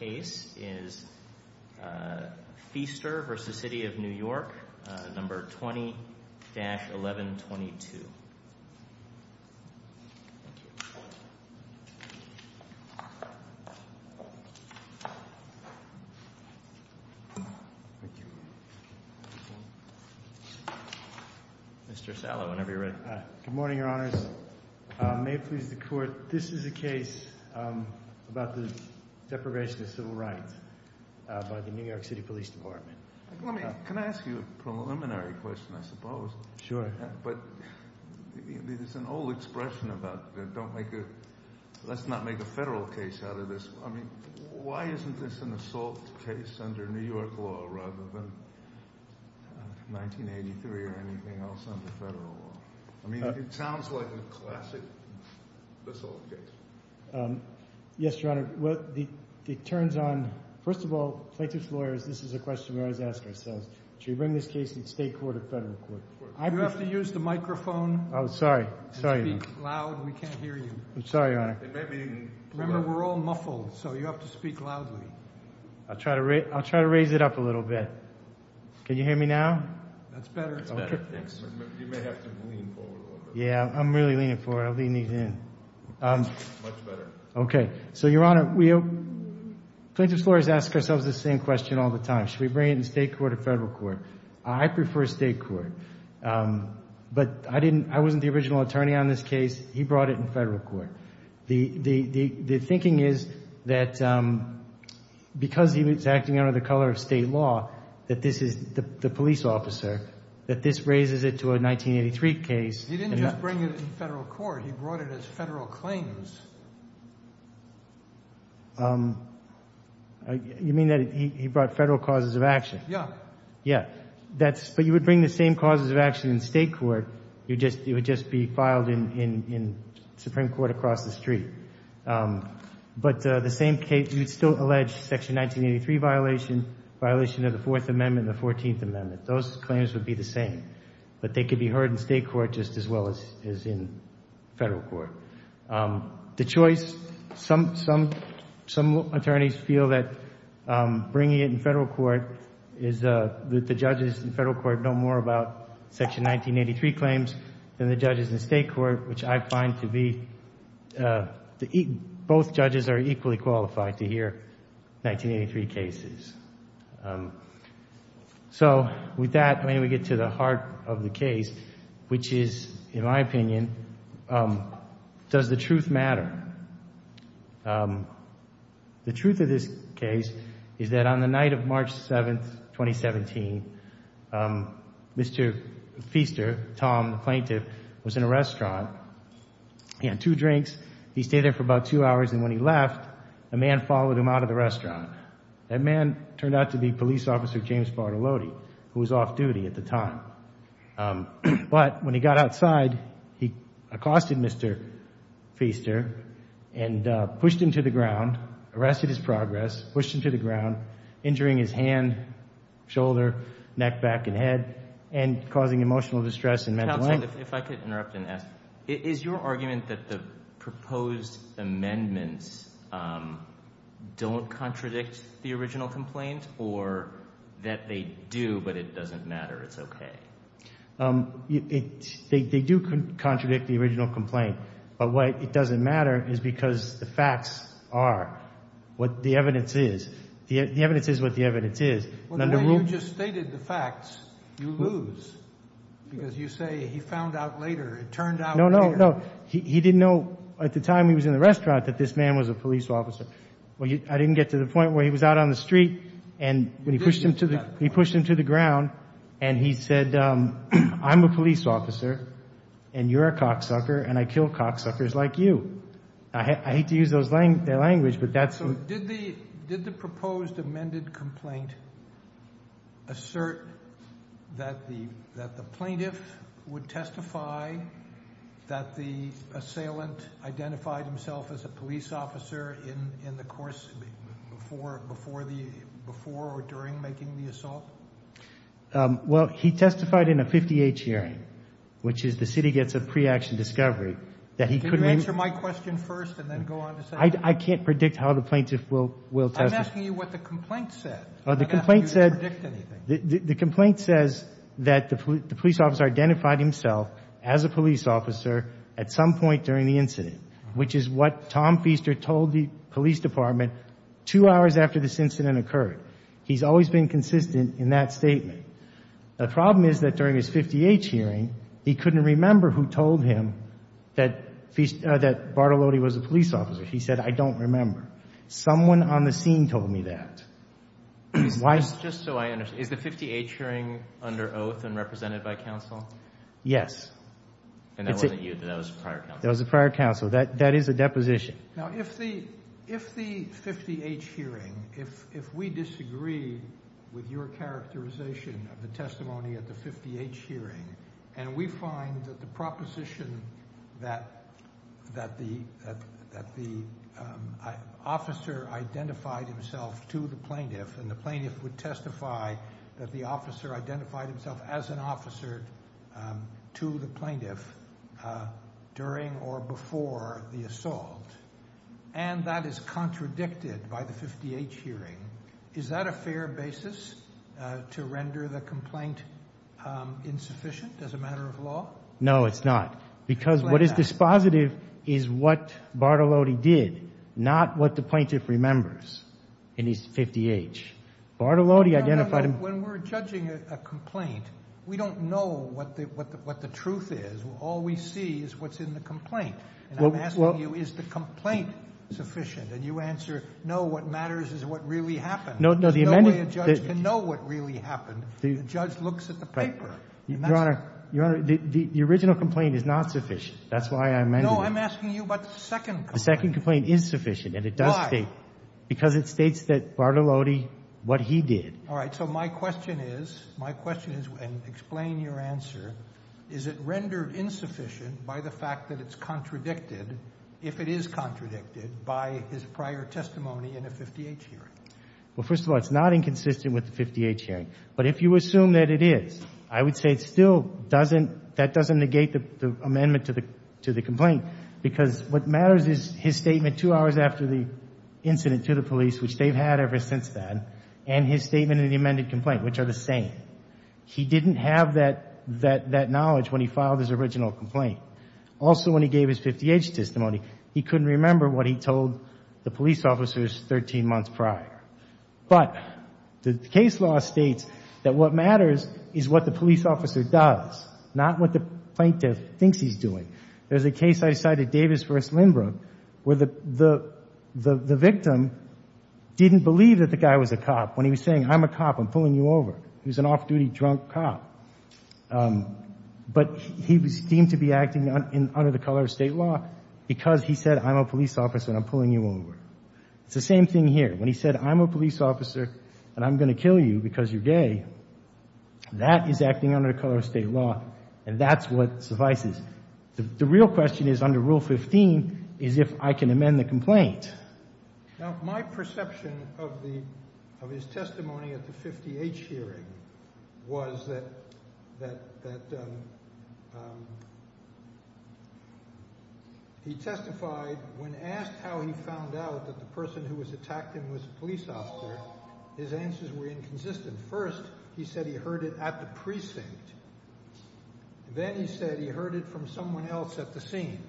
No. 20-1122 Mr. Sala, whenever you're ready Good morning, Your Honors, may it please the civil rights by the New York City Police Department. Let me, can I ask you a preliminary question, I suppose? Sure. But it's an old expression about don't make it, let's not make a federal case out of this. I mean, why isn't this an assault case under New York law rather than 1983 or anything else under federal law? I mean, it sounds like a classic assault case. Yes, Your Honor. Well, it turns on, first of all plaintiff's lawyers, this is a question we always ask ourselves. Should we bring this case to the state court or federal court? You have to use the microphone. Oh, sorry. Sorry. Speak loud, we can't hear you. I'm sorry, Your Honor. Remember, we're all muffled, so you have to speak loudly. I'll try to raise, I'll try to raise it up a little bit. Can you hear me now? That's better. Yeah, I'm really leaning forward, I'm leaning in. Much better. Okay, so Your Honor, plaintiff's lawyers ask ourselves the same question all the time. Should we bring it in state court or federal court? I prefer state court, but I didn't, I wasn't the original attorney on this case. He brought it in federal court. The thinking is that because he was acting under the color of state law, that this is the police officer, that this is the police officer. He didn't bring it in federal court, he brought it as federal claims. You mean that he brought federal causes of action? Yeah. Yeah, that's, but you would bring the same causes of action in state court, you just, it would just be filed in Supreme Court across the street. But the same case, you would still allege Section 1983 violation, violation of the Fourth Amendment, the Fourteenth Amendment. Those claims would be the same, but they could be heard in state court just as well as in federal court. The choice, some attorneys feel that bringing it in federal court is that the judges in federal court know more about Section 1983 claims than the judges in state court, which I find to be, both judges are equally qualified to hear 1983 cases. So with that, when we get to the heart of the case, which is, in my opinion, does the truth matter? The truth of this case is that on the night of March 7th, 2017, Mr. Feaster, Tom, the plaintiff, was in a restaurant. He had two drinks. He stayed there for about two hours. And when he left, a man followed him out of the restaurant. That man turned out to be police officer James Bartoloti, who was off duty at the time. But when he got outside, he accosted Mr. Feaster and pushed him to the ground, arrested his progress, pushed him to the ground, injuring his hand, shoulder, neck, back, and head, and causing emotional distress and mental health. Counsel, if I could interrupt and ask, is your argument that the proposed amendments don't contradict the original complaint or that they do, but it doesn't matter, it's okay? They do contradict the original complaint. But why it doesn't matter is because the facts are what the evidence is. The evidence is what the evidence is. Well, the way you just stated the facts, you lose. Because you say he found out later. It turned out later. No, no, no. He didn't know at the time he was in the restaurant that this man was a police officer. I didn't get to the point where he was out on the street and when he pushed him to the ground and he said, I'm a police officer and you're a cocksucker and I kill cocksuckers like you. I hate to use their language, but that's... So did the proposed amended complaint assert that the plaintiff would testify that the assailant identified himself as a police officer in the course, before the, before or during making the assault? Well, he testified in a 58 hearing, which is the city gets a pre-action discovery that he couldn't... Can you answer my question first and then go on to say... I can't predict how the plaintiff will testify. I'm asking you what the complaint said. I'm not going to ask you to predict anything. The complaint says that the police officer identified himself as a police officer at some point during the incident, which is what Tom Feaster told the plaintiff when this incident occurred. He's always been consistent in that statement. The problem is that during his 58 hearing, he couldn't remember who told him that, that Bartolotti was a police officer. He said, I don't remember. Someone on the scene told me that. Why... Just so I understand, is the 58 hearing under oath and represented by counsel? Yes. And that wasn't you, that was a prior counsel. That was a prior counsel. That, that is a deposition. Now, if the, if the 58 hearing, if we disagree with your characterization of the testimony at the 58 hearing, and we find that the proposition that, that the, that the officer identified himself to the plaintiff, and the plaintiff would testify that the officer identified himself as an officer to the plaintiff, and that is contradicted by the 58 hearing, is that a fair basis to render the complaint insufficient as a matter of law? No, it's not. Because what is dispositive is what Bartolotti did, not what the plaintiff remembers in his 58. Bartolotti identified him... When we're judging a complaint, we don't know what the, what the, what the truth is. All we see is what's in the complaint. And I'm asking you, is the complaint sufficient? And you answer, no, what matters is what really happened. No, no, the amendment... There's no way a judge can know what really happened. The judge looks at the paper. Your Honor, Your Honor, the, the original complaint is not sufficient. That's why I amended it. No, I'm asking you about the second complaint. The second complaint is sufficient, and it does state... Why? Because it states that Bartolotti, what he did... All right. So my question is, my question is, and explain your answer, is it rendered insufficient by the fact that it's contradicted, if it is contradicted, by his prior testimony in a 58 hearing? Well, first of all, it's not inconsistent with the 58 hearing. But if you assume that it is, I would say it still doesn't, that doesn't negate the amendment to the, to the complaint. Because what matters is his statement two hours after the incident to the police, which they've had ever since then, and his statement in the amended complaint, which are the same. He didn't have that, that, that original complaint. Also, when he gave his 58 testimony, he couldn't remember what he told the police officers 13 months prior. But the case law states that what matters is what the police officer does, not what the plaintiff thinks he's doing. There's a case I cited, Davis v. Lindbrook, where the, the, the victim didn't believe that the guy was a cop when he was saying, I'm a cop, I'm pulling you over. He was an off-duty drunk cop. But he was deemed to be acting under the color of State law because he said, I'm a police officer and I'm pulling you over. It's the same thing here. When he said, I'm a police officer and I'm going to kill you because you're gay, that is acting under the color of State law, and that's what suffices. The real question is, under Rule 15, is if I can amend the complaint. Now, my perception of the, of his testimony at the 58 hearing was that, that, that he testified when asked how he found out that the person who was attacked him was a police officer, his answers were inconsistent. First, he said he heard it at the precinct. Then he said he heard it from someone else at the scene.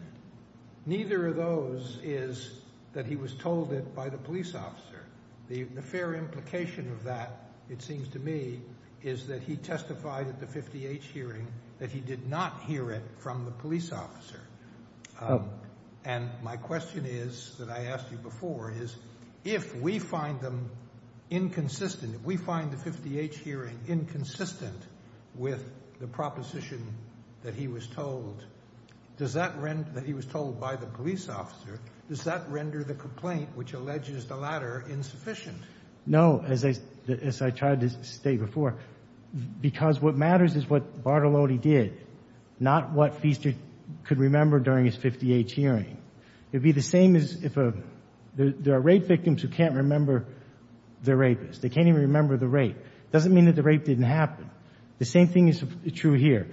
Neither of those is that he was told it by the police officer. The, the fair implication of that, it seems to me, is that he testified at the 58 hearing that he did not hear it from the police officer. And my question is, that I asked you before, is if we find them inconsistent, if we find the 58 hearing inconsistent with the statement of the police officer, does that render the complaint, which alleges the latter, insufficient? No. As I, as I tried to state before, because what matters is what Bartolotti did, not what Feaster could remember during his 58 hearing. It would be the same as if a, there are rape victims who can't remember their rapist. They can't even remember the rape. Doesn't mean that the rape didn't happen. The same thing is true here.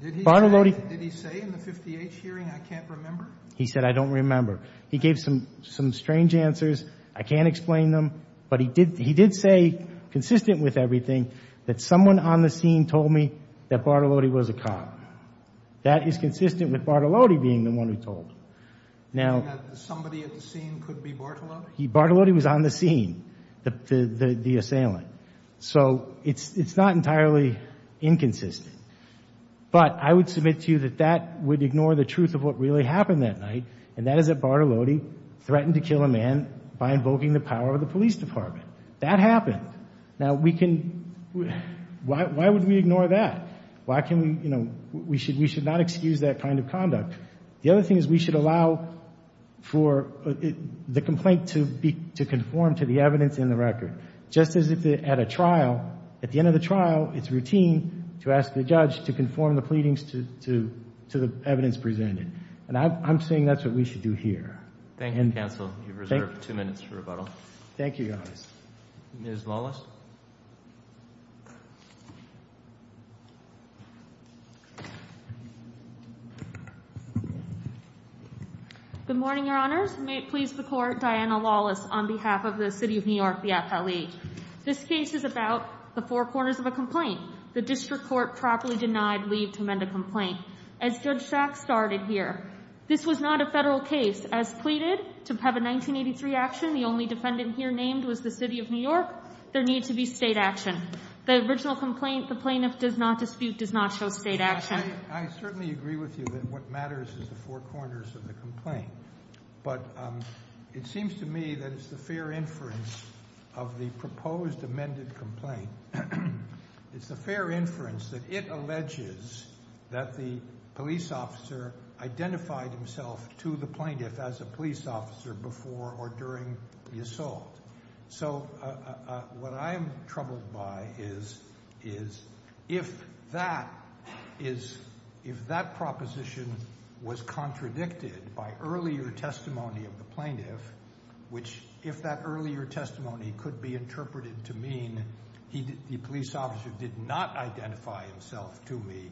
Did he say, did he say in the 58 hearing, I can't remember? He said, I don't remember. He gave some, some strange answers. I can't explain them, but he did, he did say, consistent with everything, that someone on the scene told me that Bartolotti was a cop. That is consistent with Bartolotti being the one who told him. Now, somebody at the scene could be Bartolotti? Bartolotti was on the scene, the, the, the, the assailant. So it's, it's not entirely inconsistent. But I would submit to you that that would ignore the truth of what really happened that night, and that is that Bartolotti threatened to kill a man by invoking the power of the police department. That happened. Now we can, why, why would we ignore that? Why can we, you know, we should, we should not excuse that kind of conduct. The other thing is we should allow for the complaint to be, to conform to the evidence in the record. Just as if at a trial, at the end of the trial, it's routine to ask the judge to conform the pleadings to, to, to the evidence presented. And I'm, I'm saying that's what we should do here. Thank you, counsel. You've reserved two minutes for rebuttal. Thank you, Your Honor. Ms. Lawless. Good morning, Your Honors. May it please the Court, Diana Lawless on behalf of the City of New York, the FLE. This case is about the four corners of a complaint. The district court properly denied leave to amend a complaint. As Judge Sack started here, this was not a federal case. As pleaded to have a 1983 action, the only defendant here named was the City of New York, there needs to be state action. The original complaint, the plaintiff does not dispute, does not show state action. I certainly agree with you that what matters is the four corners of the complaint. But it seems to me that it's the fair inference of the proposed amended complaint. It's the fair inference that it alleges that the police officer identified himself to the plaintiff as a police officer before or during the assault. So, what I'm troubled by is, is if that is, if that proposition was contradicted by earlier testimony of the plaintiff, which, if that earlier testimony could be interpreted to mean he did, the police officer did not identify himself to me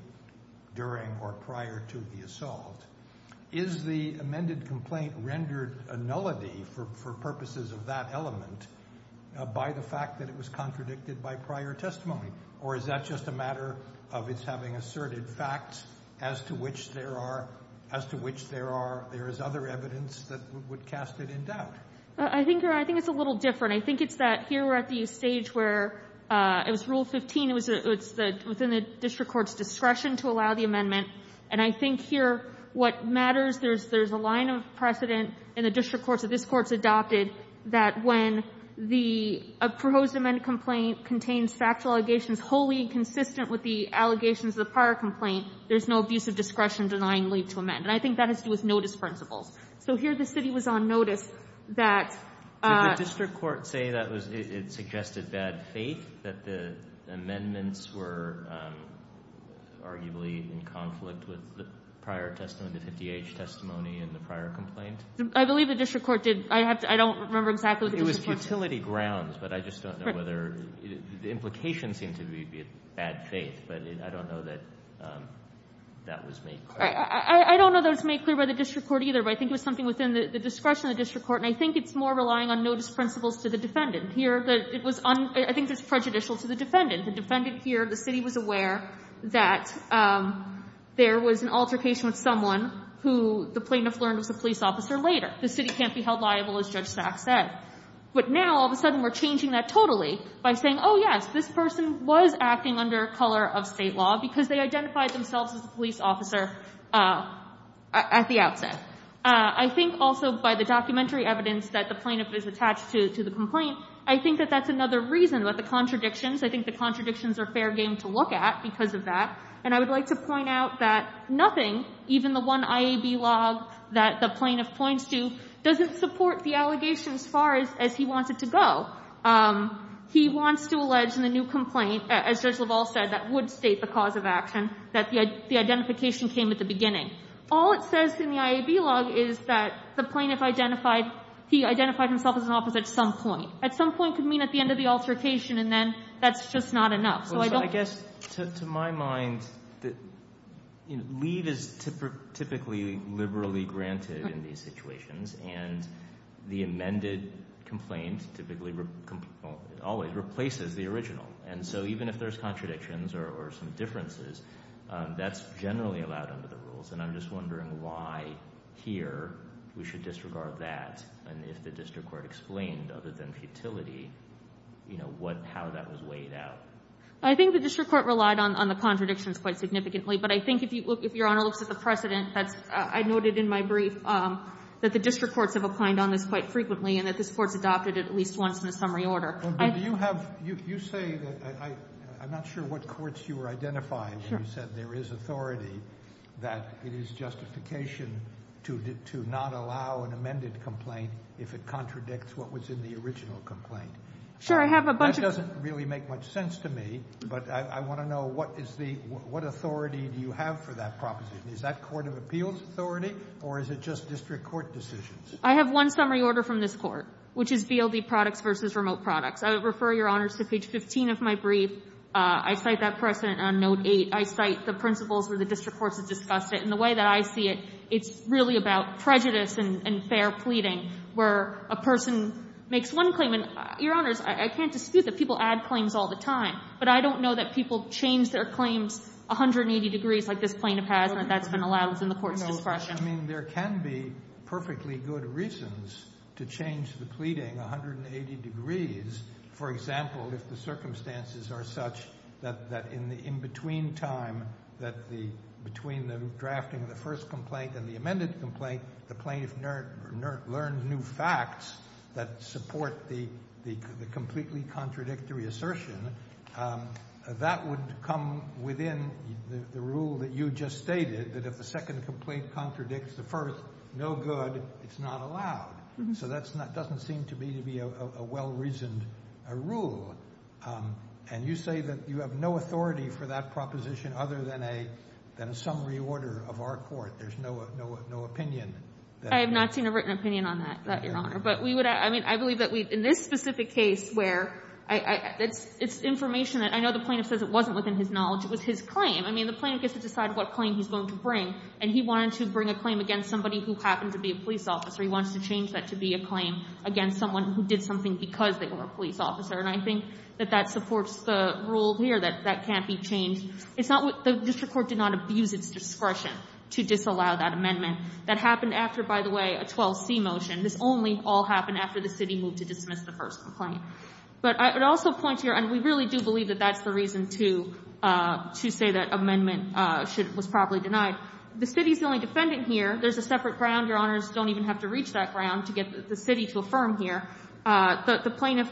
during or prior to the assault, is the amended complaint rendered a nullity for purposes of that element by the fact that it was contradicted by prior testimony? Or is that just a matter of its having asserted facts as to which there are, as to which there are, there is a line of precedent in the district courts that this Court's adopted that when the proposed amended complaint contains factual allegations wholly consistent with the allegations of the prior complaint, there's no abuse of discretion denying leave to amend. And I think that has to do with notice principles. So, here The district court say that was, it suggested bad faith that the amendments were arguably in conflict with the prior testimony, the 50H testimony and the prior complaint? I believe the district court did. I have to, I don't remember exactly what the district court said. It was futility grounds, but I just don't know whether, the implication seemed to be bad faith, but I don't know that that was made clear. I don't know that it was made clear by the district court either, but I think it was something within the discretion of the district court, and I think it's more relying on notice principles to the defendant. Here, it was, I think it was prejudicial to the defendant. The defendant here, the city was aware that there was an altercation with someone who the plaintiff learned was a police officer later. The city can't be held liable, as Judge Sachs said. But now, all of a sudden, we're changing that totally by saying, oh yes, this person was acting under color of state law because they I think also by the documentary evidence that the plaintiff is attached to the complaint, I think that that's another reason, that the contradictions, I think the contradictions are fair game to look at because of that. And I would like to point out that nothing, even the one IAB log that the plaintiff points to, doesn't support the allegation as far as he wants it to go. He wants to allege in the new complaint, as Judge LaValle said, that would state the cause of action, that the identification came at the beginning. All it says in the IAB log is that the plaintiff identified, he identified himself as an officer at some point. At some point could mean at the end of the altercation and then that's just not enough. So I don't... So I guess, to my mind, leave is typically liberally granted in these situations and the amended complaint typically always replaces the original. And so even if there's a contradiction, it's not weighed out under the rules. And I'm just wondering why here we should disregard that. And if the district court explained, other than futility, how that was weighed out. I think the district court relied on the contradictions quite significantly. But I think if Your Honor looks at the precedent, I noted in my brief, that the district courts have applied on this quite frequently and that this court's adopted it at least once in a summary order. But do you have, you say that, I'm not sure what courts you were identifying when you said there is authority, that it is justification to not allow an amended complaint if it contradicts what was in the original complaint. Sure, I have a bunch of... That doesn't really make much sense to me, but I want to know what is the, what authority do you have for that proposition? Is that court of appeals authority or is it just district court decisions? I have one summary order from this court, which is VLD products versus remote products. I would refer, Your Honors, to page 15 of my brief. I cite that precedent on note 8. I cite the principles where the district courts have discussed it. And the way that I see it, it's really about prejudice and fair pleading where a person makes one claim. And Your Honors, I can't dispute that people add claims all the time. But I don't know that people change their claims 180 degrees like this plaintiff has and that that's been allowed within the court's discretion. I mean, there can be perfectly good reasons to change the pleading 180 degrees for example, if the circumstances are such that in the in-between time that between the drafting of the first complaint and the amended complaint, the plaintiff learned new facts that support the completely contradictory assertion. That would come within the rule that you just stated that if the second complaint contradicts the first, no good, it's not allowed. So that doesn't seem to be a well-reasoned rule. And you say that you have no authority for that proposition other than a summary order of our court. There's no opinion. I have not seen a written opinion on that, Your Honor. But we would, I mean, I believe that in this specific case where it's information that I know the plaintiff says it wasn't within his knowledge. It was his claim. I mean, the plaintiff gets to decide what claim he's going to bring. And he wanted to bring a claim against somebody who happened to be a police officer. He wants to change that to be a claim against someone who did something because they were a police officer. And I think that that supports the rule here that that can't be changed. The district court did not abuse its discretion to disallow that amendment. That happened after, by the way, a 12C motion. This only all happened after the city moved to dismiss the first complaint. But I would also point here, and we really do believe that that's the reason to say that amendment was properly denied. The city's the only defendant here. There's a separate ground. Your Honors don't even have to reach that ground to get the city to affirm here. The plaintiff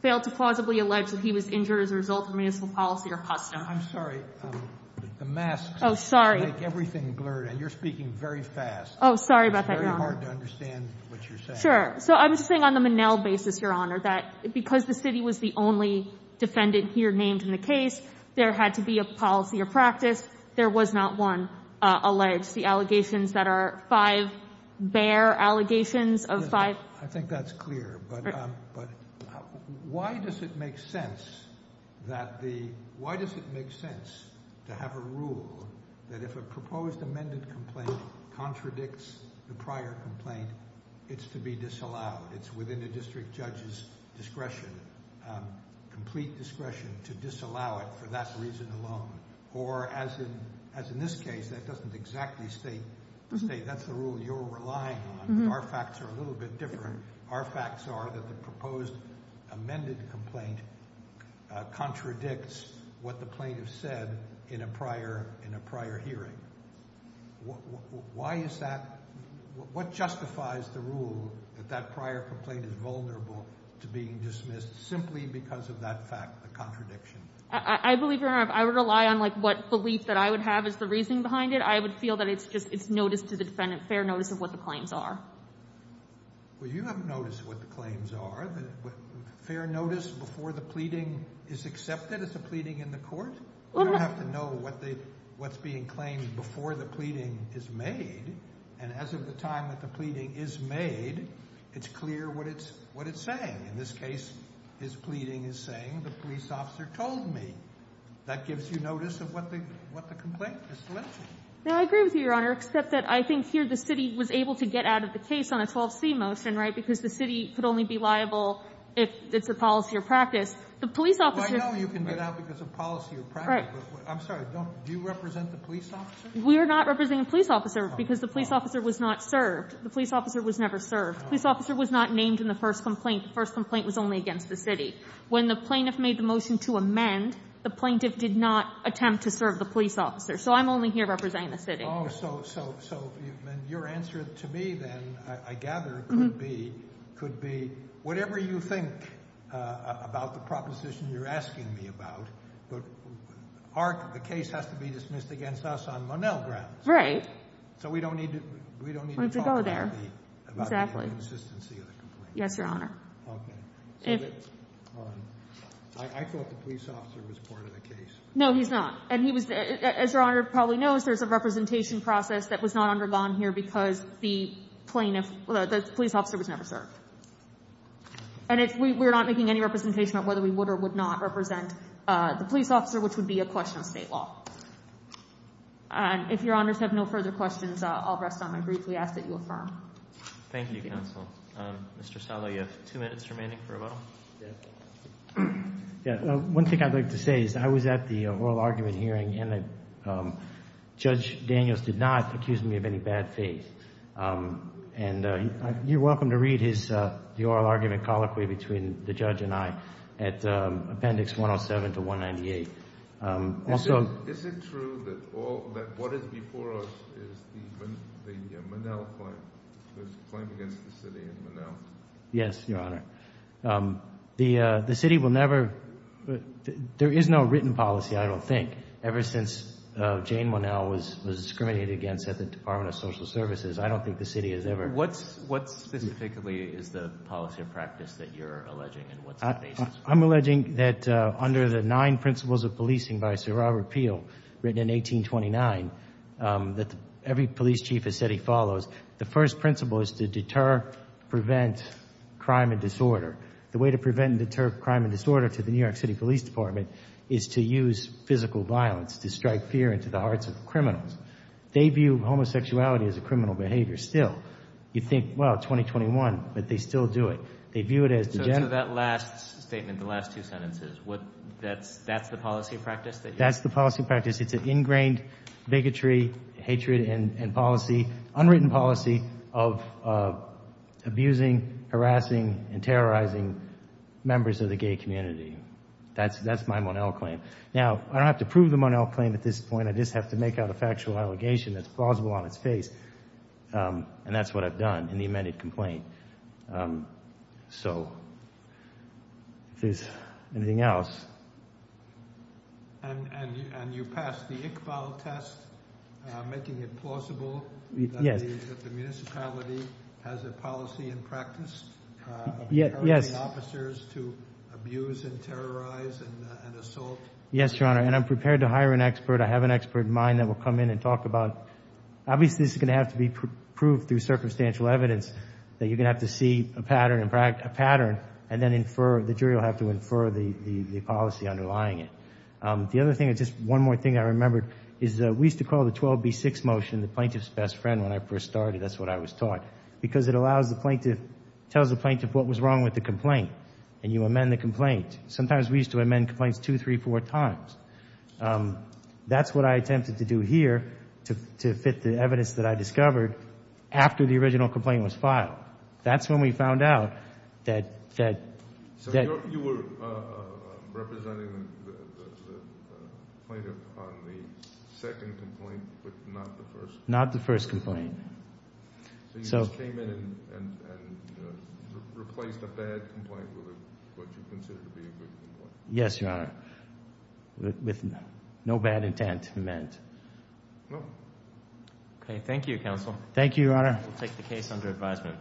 failed to plausibly allege that he was injured as a result of municipal policy or custom. I'm sorry. The masks make everything blurred. Oh, sorry. And you're speaking very fast. Oh, sorry about that, Your Honor. It's very hard to understand what you're saying. Sure. So I'm just saying on the Monell basis, Your Honor, that because the city was the only defendant here named in the case, there had to be a policy or practice. There was not one alleged. The allegations that are five bare allegations of five. I think that's clear. But why does it make sense that the... Why does it make sense to have a rule that if a proposed amended complaint contradicts the prior complaint, it's to be disallowed? It's within the district judge's discretion, complete discretion to disallow it for that reason alone. Or as in this case, that doesn't exactly state that's the rule you're relying on. Our facts are a little bit different. Our facts are that the proposed amended complaint contradicts what the plaintiff said in a prior hearing. Why is that? What justifies the rule that that prior complaint is vulnerable to being dismissed simply because of that fact, the contradiction? I believe, Your Honor, I would rely on what belief that I would have as the reasoning behind it. I would feel that it's just notice to the defendant, fair notice of what the claims are. Well, you haven't noticed what the claims are. Fair notice before the pleading is accepted as a pleading in the court? You don't have to know what's being claimed before the pleading is made. And as of the time that the pleading is made, it's clear what it's saying. In this case, his pleading is saying, the police officer told me. That gives you notice of what the complaint is alleging. I agree with you, Your Honor, except that I think here the city was able to get out of the case on a 12C motion, because the city could only be liable if it's a policy or practice. I know you can get out because of policy or practice. I'm sorry. Do you represent the police officer? We are not representing the police officer because the police officer was not served. The police officer was never served. The police officer was not named in the first complaint. The first complaint was only against the city. When the plaintiff made the motion to amend, the plaintiff did not attempt to serve the police officer. So I'm only here representing the city. Oh, so your answer to me then, I gather, could be whatever you think about the proposition you're asking me about. But the case has to be dismissed against us on Monell grounds. Right. So we don't need to talk about it. Exactly. About the inconsistency of the complaint. Yes, Your Honor. Okay. Hold on. I thought the police officer was part of the case. No, he's not. And he was, as Your Honor probably knows, there's a representation process that was not undergone here because the police officer was never served. And we're not making any representation about whether we would or would not represent the police officer, which would be a question of state law. If Your Honors have no further questions, I'll rest on my brief. We ask that you affirm. Thank you, Counsel. Mr. Salo, you have two minutes remaining for rebuttal. One thing I'd like to say is I was at the oral argument hearing and Judge Daniels did not accuse me of any bad faith. And you're welcome to read the oral argument colloquy between the judge and I at Appendix 107 to 198. Is it true that what is before us is the Monell claim? The claim against the city and Monell. Yes, Your Honor. The city will never, there is no written policy, I don't think, ever since Jane Monell was discriminated against at the Department of Social Services. I don't think the city has ever. What specifically is the policy or practice that you're alleging? I'm alleging that under the nine principles of policing by Sir Robert Peel, written in 1829, that every police chief has said he follows. The first principle is to deter, prevent crime and disorder. The way to prevent and deter crime and disorder to the New York City Police Department is to use physical violence to strike fear into the hearts of criminals. They view homosexuality as a criminal behavior still. You think, well, 2021, but they still do it. They view it as degenerate. So that last statement, the last two sentences, that's the policy or practice? That's the policy or practice. It's an ingrained bigotry, hatred and policy, unwritten policy of abusing, harassing, and terrorizing members of the gay community. That's my Monell claim. Now, I don't have to prove the Monell claim at this point. I just have to make out a factual allegation that's plausible on its face. And that's what I've done in the amended complaint. So, if there's anything else. And you passed the Iqbal test, making it plausible that the municipality has a policy and practice of harassing officers to abuse and terrorize and assault? Yes, Your Honor. And I'm prepared to hire an expert. I have an expert in mind that will come in and talk about. Obviously, this is going to have to be proved through circumstantial evidence that you're going to have to see a pattern and then infer, the jury will have to infer the policy underlying it. The other thing, just one more thing I remembered, is that we used to call the 12B6 motion the plaintiff's best friend when I first started. That's what I was taught. Because it allows the plaintiff, tells the plaintiff what was wrong with the complaint. And you amend the complaint. Sometimes we used to amend complaints two, three, four times. That's what I attempted to do here to fit the evidence that I discovered after the original complaint was filed. That's when we found out that... So you were representing the plaintiff on the second complaint, but not the first? Not the first complaint. So you just came in and replaced a bad complaint with what you considered to be a good complaint? Yes, Your Honor. With no bad intent meant. Okay. Thank you, counsel. Thank you, Your Honor. We'll take the case under advisement.